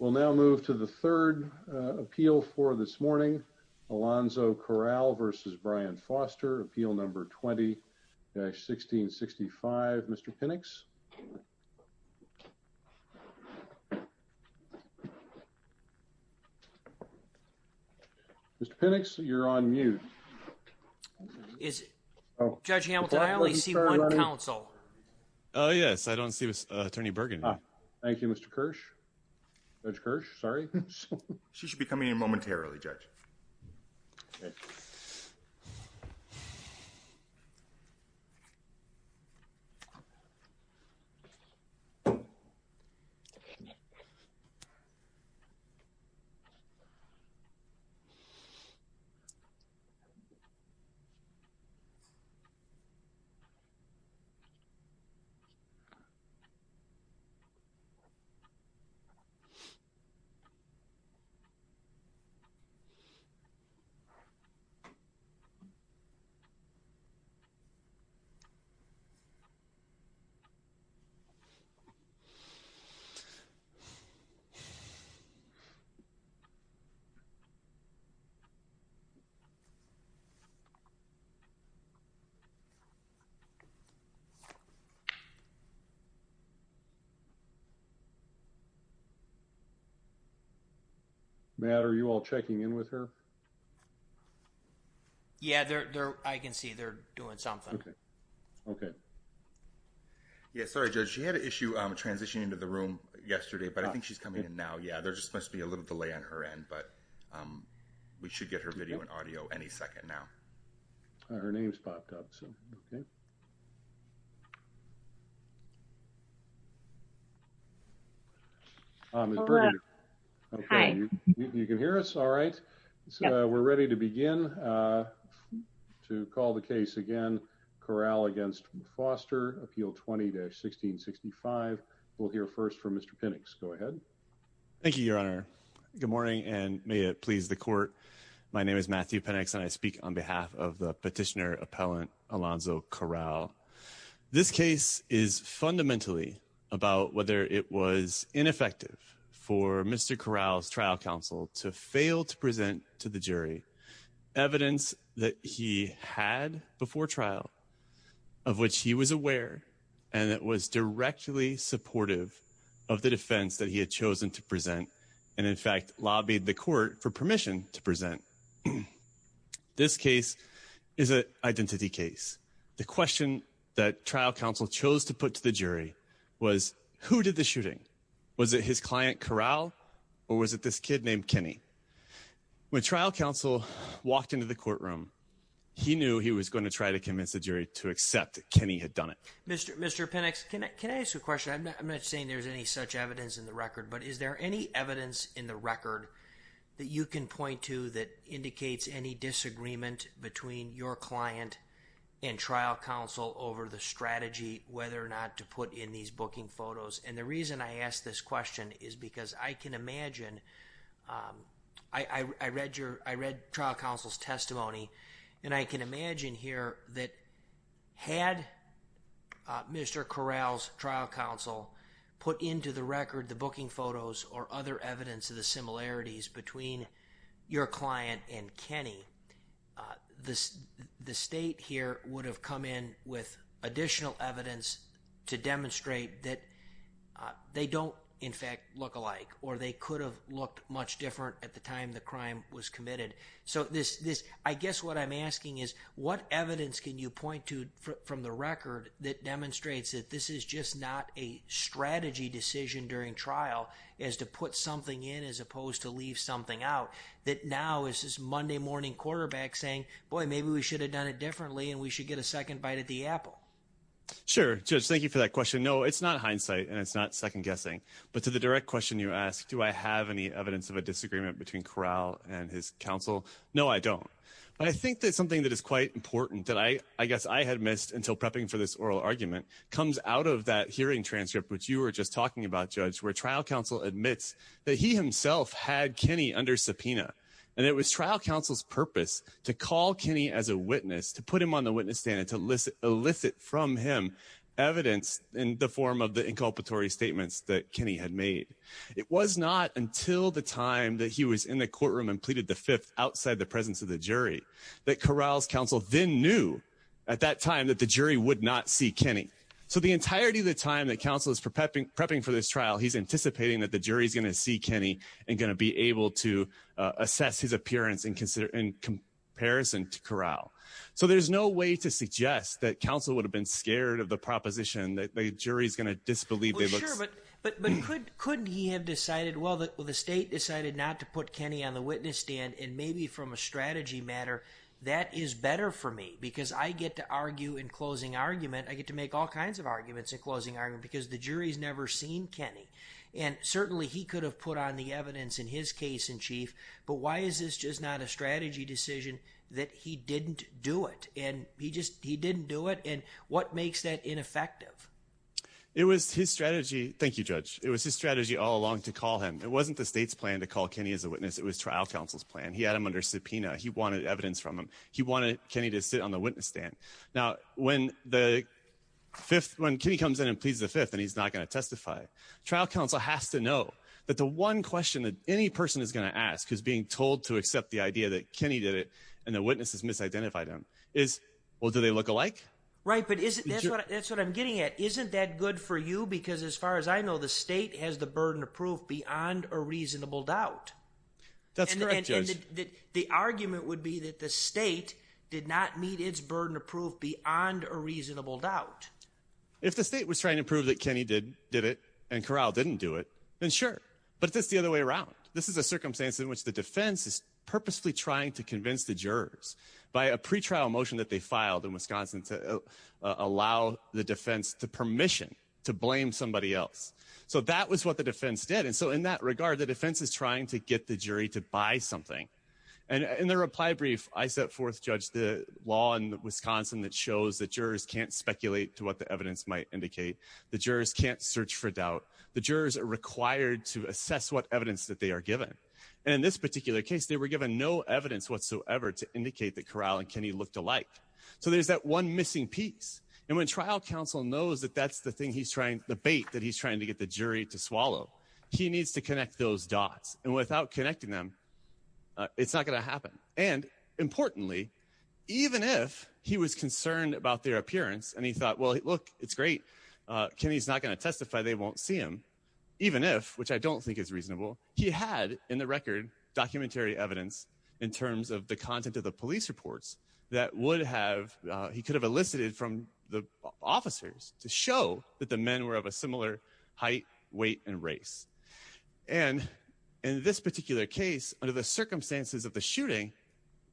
We'll now move to the third appeal for this morning. Alonso Corral v. Brian Foster, appeal number 20-1665. Mr. Pinnocks? Mr. Pinnocks, you're on mute. Is it? Judge Hamilton, I only see one counsel. Oh yes, I don't see Attorney Bergen. Thank you, Mr. Kirsch. Judge Kirsch, sorry. She should be coming in momentarily, Judge. Matt, are you all checking in with her? Yeah, I can see they're doing something. Okay. Yeah, sorry, Judge. She had an issue transitioning into the room yesterday, but I think she's coming in now. Yeah, there just must be a little delay on her end, but we should get her video and audio any second now. Her name's popped up, so okay. Hi. You can hear us? All right. So we're ready to begin to call the case again, Corral v. Foster, appeal 20-1665. We'll hear first from Mr. Pinnocks. Go ahead. Thank you, Your Honor. Good morning, and may it please the court. My name is Matthew Pinnocks, and I speak on behalf of the petitioner appellant, Alonso Corral. This case is fundamentally about whether it was ineffective for Mr. Corral's trial counsel to fail to present to the jury evidence that he had before trial of which he was aware and that was directly supportive of the defense that he had chosen to present and, in fact, lobbied the court for permission to present. This case is an identity case. The question that trial counsel chose to put to the jury was, who did the shooting? Was it his client, Corral, or was it this kid named Kenny? When trial counsel walked into the courtroom, he knew he was going to try to convince the jury to accept that Kenny had done it. Mr. Pinnocks, can I ask you a question? I'm not saying there's any such evidence in the record, but is there any evidence in the record that you can point to that indicates any disagreement between your client and trial counsel over the strategy whether or not to put in these booking photos? The reason I ask this question is because I can imagine, I read trial counsel's testimony, and I can imagine here that had Mr. Corral's trial counsel put into the record the booking photos or other evidence of the similarities between your client and Kenny, the state here would have come in with additional evidence to demonstrate that they don't, in fact, look alike, or they could have looked much different at the time the crime was committed. I guess what I'm asking is, what evidence can you point to from the record that demonstrates that this is just not a strategy decision during trial as to put something in as that now is this Monday morning quarterback saying, boy, maybe we should have done it differently and we should get a second bite at the apple? Sure, Judge, thank you for that question. No, it's not hindsight, and it's not second guessing, but to the direct question you asked, do I have any evidence of a disagreement between Corral and his counsel? No, I don't, but I think that's something that is quite important that I guess I had missed until prepping for this oral argument comes out of that hearing transcript, which you were just talking about, where trial counsel admits that he himself had Kenny under subpoena, and it was trial counsel's purpose to call Kenny as a witness, to put him on the witness stand and to elicit from him evidence in the form of the inculpatory statements that Kenny had made. It was not until the time that he was in the courtroom and pleaded the fifth outside the presence of the jury that Corral's counsel then knew at that time that the jury would not see Kenny. So the entirety of time that counsel is prepping for this trial, he's anticipating that the jury's going to see Kenny and going to be able to assess his appearance in comparison to Corral. So there's no way to suggest that counsel would have been scared of the proposition that the jury's going to disbelieve. But couldn't he have decided, well, the state decided not to put Kenny on the witness stand, and maybe from a strategy matter, that is better for me because I get to argue in closing argument, I get to make all kinds of arguments in closing argument because the jury's never seen Kenny. And certainly he could have put on the evidence in his case in chief, but why is this just not a strategy decision that he didn't do it? And he just, he didn't do it. And what makes that ineffective? It was his strategy. Thank you, Judge. It was his strategy all along to call him. It wasn't the state's plan to call Kenny as a witness. It was trial counsel's plan. He had him under subpoena. He wanted evidence from him. He wanted Kenny to sit on the witness stand. Now, when the fifth, when Kenny comes in and pleads the fifth and he's not going to testify, trial counsel has to know that the one question that any person is going to ask is being told to accept the idea that Kenny did it and the witnesses misidentified him is, well, do they look alike? Right. But that's what I'm getting at. Isn't that good for you? Because as far as I know, the state has the burden of proof beyond a reasonable doubt. That's correct, Judge. The argument would be that the state did not meet its burden of proof beyond a reasonable doubt. If the state was trying to prove that Kenny did, did it and Corral didn't do it, then sure. But that's the other way around. This is a circumstance in which the defense is purposefully trying to convince the jurors by a pretrial motion that they filed in Wisconsin to allow the defense to permission to blame somebody else. So that was what the defense did. And so in that regard, the defense is trying to get the jury to buy something. And in the reply brief, I set forth, Judge, the law in Wisconsin that shows that jurors can't speculate to what the evidence might indicate. The jurors can't search for doubt. The jurors are required to assess what evidence that they are given. And in this particular case, they were given no evidence whatsoever to indicate that Corral and Kenny looked alike. So there's that one missing piece. And when trial counsel knows that that's the thing he's trying, the bait that he's trying to get the jury to swallow, he needs to connect those dots. And without connecting them, it's not going to happen. And importantly, even if he was concerned about their appearance and he thought, well, look, it's great. Kenny's not going to testify. They won't see him, even if which I don't think is reasonable. He had in the record documentary evidence in terms of the content of the police reports that would have he could have elicited from the officers to show that the men were of similar height, weight and race. And in this particular case, under the circumstances of the shooting,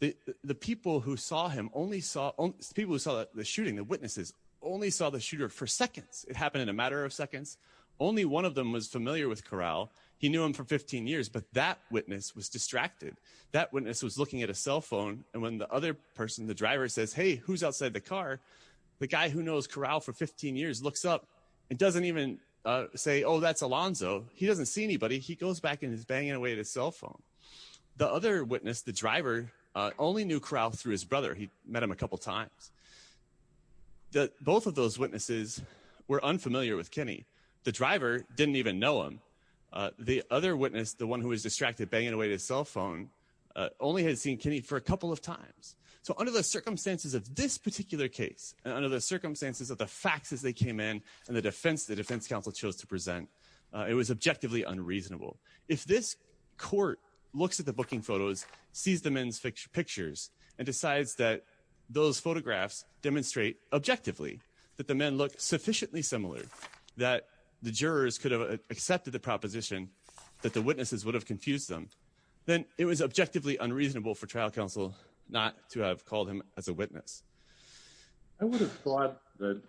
the people who saw him only saw people who saw the shooting, the witnesses only saw the shooter for seconds. It happened in a matter of seconds. Only one of them was familiar with Corral. He knew him for 15 years, but that witness was distracted. That witness was looking at a cell phone. And when the other person, the driver says, hey, who's outside the car? The guy who knows Corral for 15 years looks up and doesn't even say, oh, that's Alonzo. He doesn't see anybody. He goes back and is banging away at his cell phone. The other witness, the driver, only knew Corral through his brother. He met him a couple of times. Both of those witnesses were unfamiliar with Kenny. The driver didn't even know him. The other witness, the one who was distracted, banging away at his cell phone, only had seen Kenny for a couple of times. So under the circumstances of this particular case, under the circumstances of the faxes they came in and the defense, the defense counsel chose to present, it was objectively unreasonable. If this court looks at the booking photos, sees the men's pictures, and decides that those photographs demonstrate objectively that the men look sufficiently similar, that the jurors could have accepted the proposition that the witnesses would have confused them, then it was objectively unreasonable for trial counsel not to have called him as a witness. I would have thought that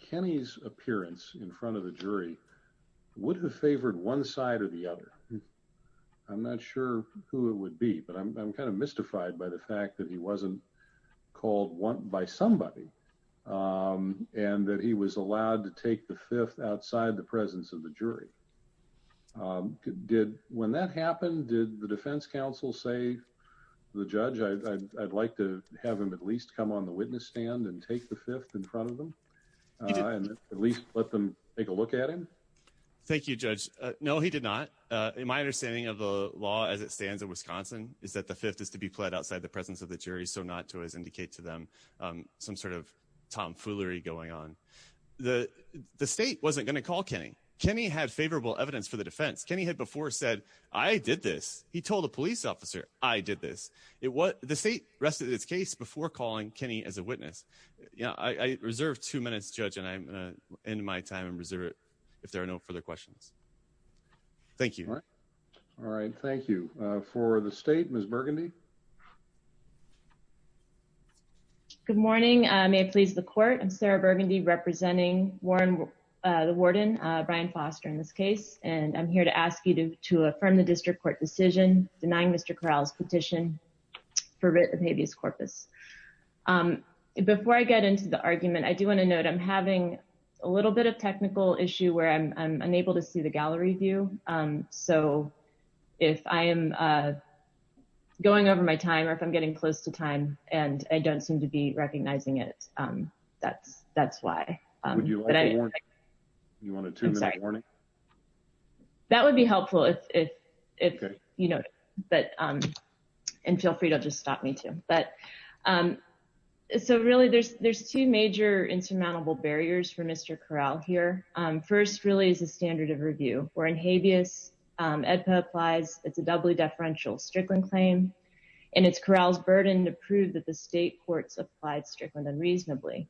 Kenny's appearance in front of the jury would have favored one side or the other. I'm not sure who it would be, but I'm kind of mystified by the fact that he wasn't called by somebody and that he was allowed to take the fifth outside the presence of the jury. When that happened, did the defense counsel say, the judge, I'd like to have him at least come on the witness stand and take the fifth in front of them, and at least let them take a look at him? Thank you, Judge. No, he did not. My understanding of the law as it stands in Wisconsin is that the fifth is to be pled outside the presence of the jury, so not to as indicate to them some sort of tomfoolery going on. The state wasn't going to call Kenny. Kenny had favorable evidence for the defense. Kenny had before said, I did this. He before calling Kenny as a witness. I reserve two minutes, Judge, and I'm going to end my time and reserve it if there are no further questions. Thank you. All right. Thank you. For the state, Ms. Burgundy. Good morning. May it please the court. I'm Sarah Burgundy representing Warren, the warden, Brian Foster in this case, and I'm here to ask you to affirm the district court decision denying Mr. Corral's petition for writ of habeas corpus. Before I get into the argument, I do want to note I'm having a little bit of technical issue where I'm unable to see the gallery view, so if I am going over my time or if I'm getting close to time and I don't seem to be recognizing it, that's why. Would you like a warning? You want a two-minute warning? That would be helpful if, you know, and feel free to just stop me, too. But so really there's two major insurmountable barriers for Mr. Corral here. First, really, is the standard of review. Where in habeas, AEDPA applies, it's a doubly deferential Strickland claim, and it's Corral's burden to prove that the state courts applied Strickland unreasonably.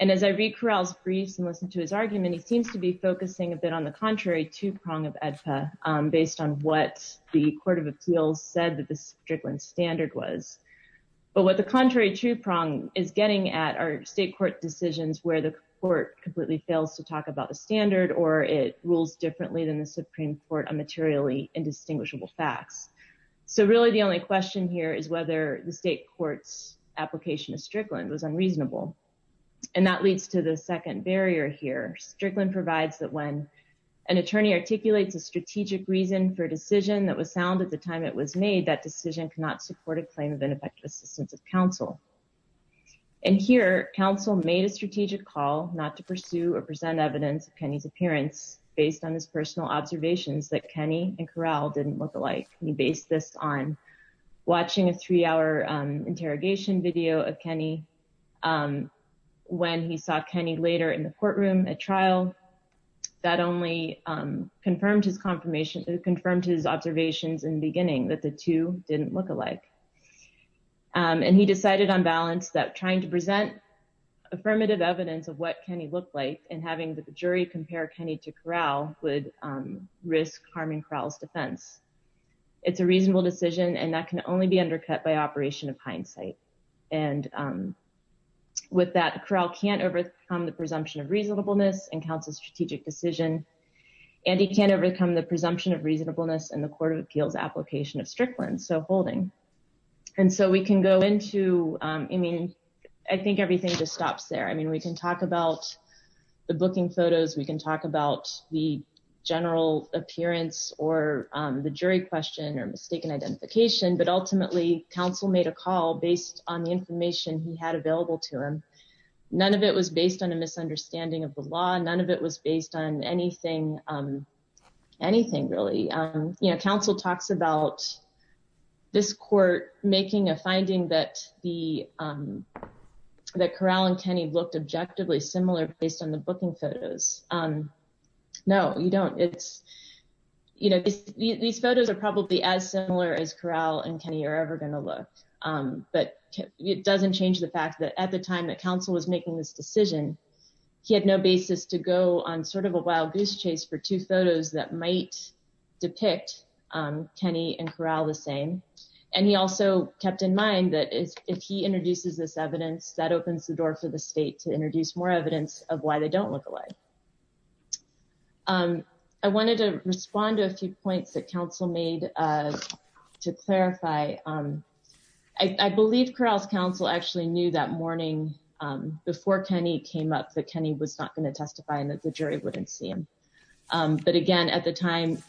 And as I read Corral's briefs and listen to his argument, he seems to be focusing a bit on the contrary two-prong of AEDPA based on what the court of appeals said that the Strickland standard was. But what the contrary two-prong is getting at are state court decisions where the court completely fails to talk about the standard or it rules differently than the Supreme Court on materially indistinguishable facts. So really the only question here is whether the state court's application of Strickland was unreasonable. And that leads to the second barrier here. Strickland provides that when an attorney articulates a strategic reason for a decision that was sound at the time it was made, that decision cannot support a claim of ineffective assistance of counsel. And here, counsel made a strategic call not to pursue or present evidence of Kenny's appearance based on his personal observations that Kenny and Corral didn't look alike. He based this on watching a three-hour interrogation video of Kenny when he saw Kenny later in the courtroom at trial. That only confirmed his observations in the beginning that the two didn't look alike. And he decided on balance that trying to present affirmative evidence of what Kenny looked like and having the jury compare Kenny to Corral would risk harming Corral's defense. It's a reasonable decision and that can only be undercut by operation of hindsight. And with that, Corral can't overcome the presumption of reasonableness and counsel's strategic decision. And he can't overcome the presumption of reasonableness and the Court of Appeals application of Strickland. So holding. And so we can go into, I mean, I think everything just stops there. I mean, we can talk about the booking photos. We can talk about the general appearance or the jury question or mistaken identification. But ultimately, counsel made a call based on the information he had available to him. None of it was based on a misunderstanding of the law. None of it was based on anything, anything really. You know, counsel talks about this court making a finding that the, that Corral and Kenny looked objectively similar based on the booking photos. No, you don't. It's, you know, these photos are probably as similar as Corral and Kenny are ever going to look. But it doesn't change the fact that at the time that counsel was making this decision, he had no basis to go on sort of a wild goose chase for two photos that might depict Kenny and Corral the same. And he also kept in mind that if he introduces this evidence, that opens the door for the state to introduce more evidence of why they don't look alike. I wanted to respond to a few points that counsel made to clarify. I believe Corral's counsel actually knew that morning before Kenny came up that Kenny was not going to testify and that jury wouldn't see him. But again, at the time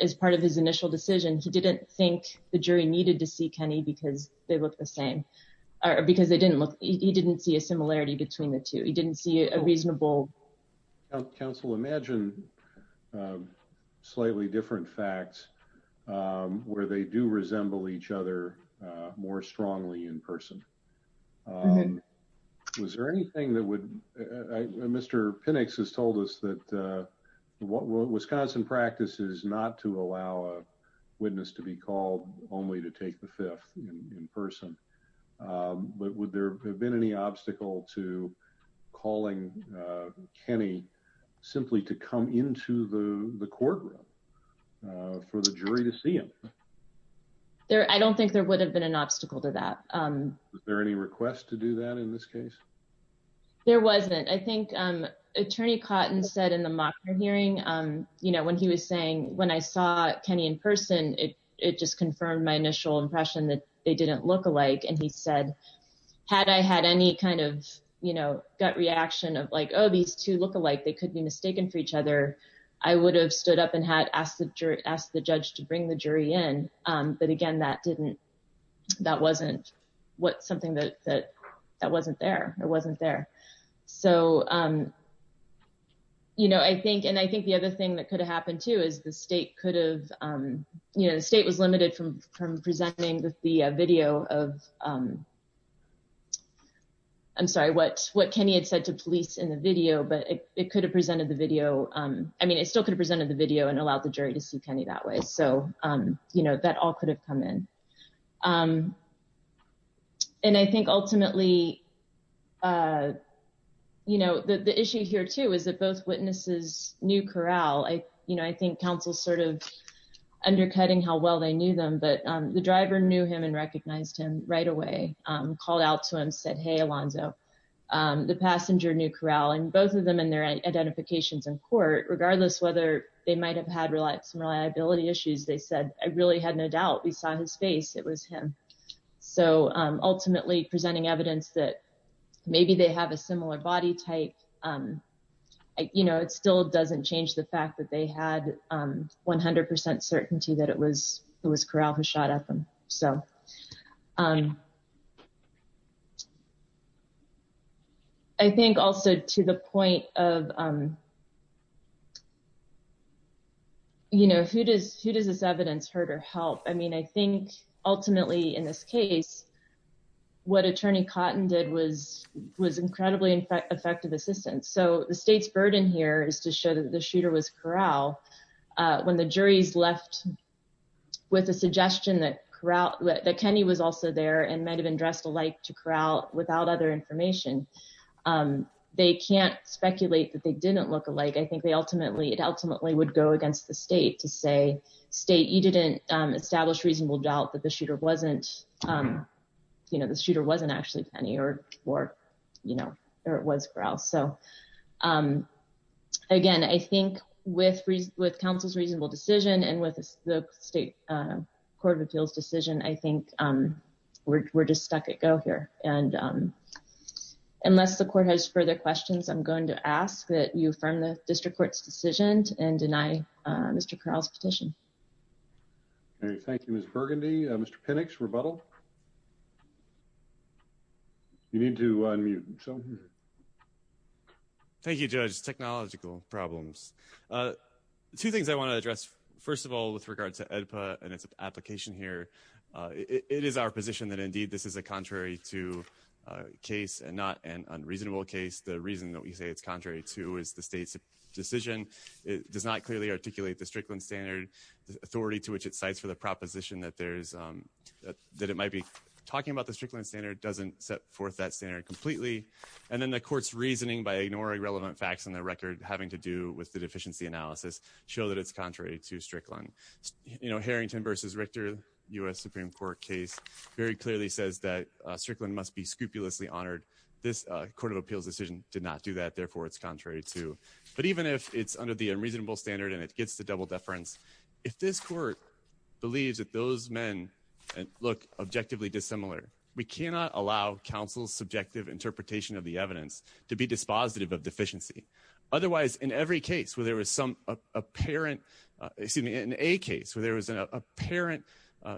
as part of his initial decision, he didn't think the jury needed to see Kenny because they look the same or because they didn't look, he didn't see a similarity between the two. He didn't see a reasonable. Counsel, imagine slightly different facts where they do resemble each other more strongly in person. Was there anything that would, Mr. Pinnocks has told us that what Wisconsin practice is not to allow a witness to be called only to take the fifth in person. But would there have been any obstacle to calling Kenny simply to come into the courtroom for the jury to see him? There, I don't think there would have been an obstacle to that. Is there any request to do that in this case? There wasn't. I think attorney Cotton said in the mock hearing, you know, when he was saying when I saw Kenny in person, it just confirmed my initial impression that they didn't look alike. And he said, had I had any kind of, you know, gut reaction of like, oh, these two look alike, they could be mistaken for each other. I would have stood up and had asked the jury, asked the judge to bring the jury in. But again, that didn't, that wasn't, what something that wasn't there, it wasn't there. So, you know, I think, and I think the other thing that could have happened too, is the state could have, you know, the state was limited from presenting the video of, I'm sorry, what Kenny had said to police in the video, but it could have presented the video. I mean, it still could have presented the video and allowed the jury to see Kenny that way. So, you know, that all could have come in. And I think ultimately, you know, the issue here too, is that both witnesses knew Corral. I, you know, I think counsel sort of undercutting how well they knew them, but the driver knew him and recognized him right away, called out to him, said, hey, Alonzo, the passenger knew Corral and both of them and identifications in court, regardless whether they might've had some reliability issues, they said, I really had no doubt we saw his face, it was him. So ultimately presenting evidence that maybe they have a similar body type, you know, it still doesn't change the fact that they had 100% certainty that it was Corral who shot at them. So, I think also to the point of, you know, who does this evidence hurt or help? I mean, I think ultimately in this case, what attorney Cotton did was incredibly effective assistance. So the state's burden here is to show the shooter was Corral. When the jury's left with a suggestion that Corral, that Kenny was also there and might've been dressed alike to Corral without other information, they can't speculate that they didn't look alike. I think they ultimately, it ultimately would go against the state to say, state, you didn't establish reasonable doubt that the shooter wasn't, you know, the shooter wasn't actually Kenny or, you know, or it was Corral. So again, I think with counsel's reasonable decision and with the state court of appeals decision, I think we're just stuck at go here. And unless the court has further questions, I'm going to ask that you affirm the district court's decision and deny Mr. Corral's petition. Okay. Thank you. Ms. Burgundy, Mr. Pinnock's rebuttal. You need to unmute. Thank you, judge. Technological problems. Two things I want to address. First of all, with regard to EDPA and its application here, it is our position that indeed this is a contrary to case and not an unreasonable case. The reason that we say it's contrary to is the state's decision. It does not clearly articulate the Strickland standard, the authority to which it cites for the proposition that there's, that it might be talking about the Strickland standard doesn't set forth that standard completely. And then the court's reasoning by ignoring relevant facts on the record, having to do with the deficiency analysis show that it's contrary to Strickland. You know, Harrington versus Richter U.S. Supreme court case very clearly says that Strickland must be scrupulously honored. This court of appeals decision did not do that. Therefore it's contrary to, but even if it's under the unreasonable standard and it gets to double deference, if this court believes that those men look objectively dissimilar, we cannot allow counsel's subjective interpretation of the evidence to be dispositive of deficiency. Otherwise in every case where there was some apparent, excuse me, in a case where there was an apparent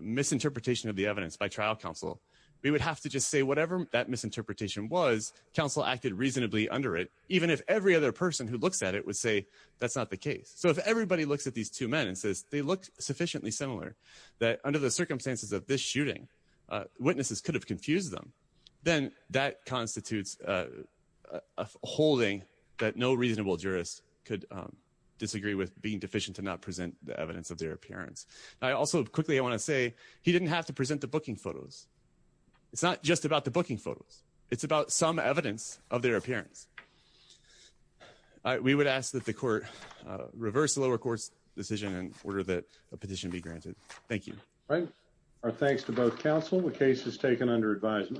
misinterpretation of the evidence by trial counsel, we would have to just say whatever that misinterpretation was, counsel acted reasonably under it. Even if every other person who looks at it would say, that's not the case. So if everybody looks at these two men and says they look sufficiently similar that under the circumstances of this shooting, witnesses could have confused them. Then that constitutes a holding that no reasonable jurist could disagree with being deficient to not present the evidence of their appearance. I also quickly, I want to say he didn't have to present the booking photos. It's not just about the booking photos. It's about some evidence of their appearance. We would ask that the court reverse the lower court's decision in order that a petition be granted. Thank you. Our thanks to both counsel. The case is taken under advisement.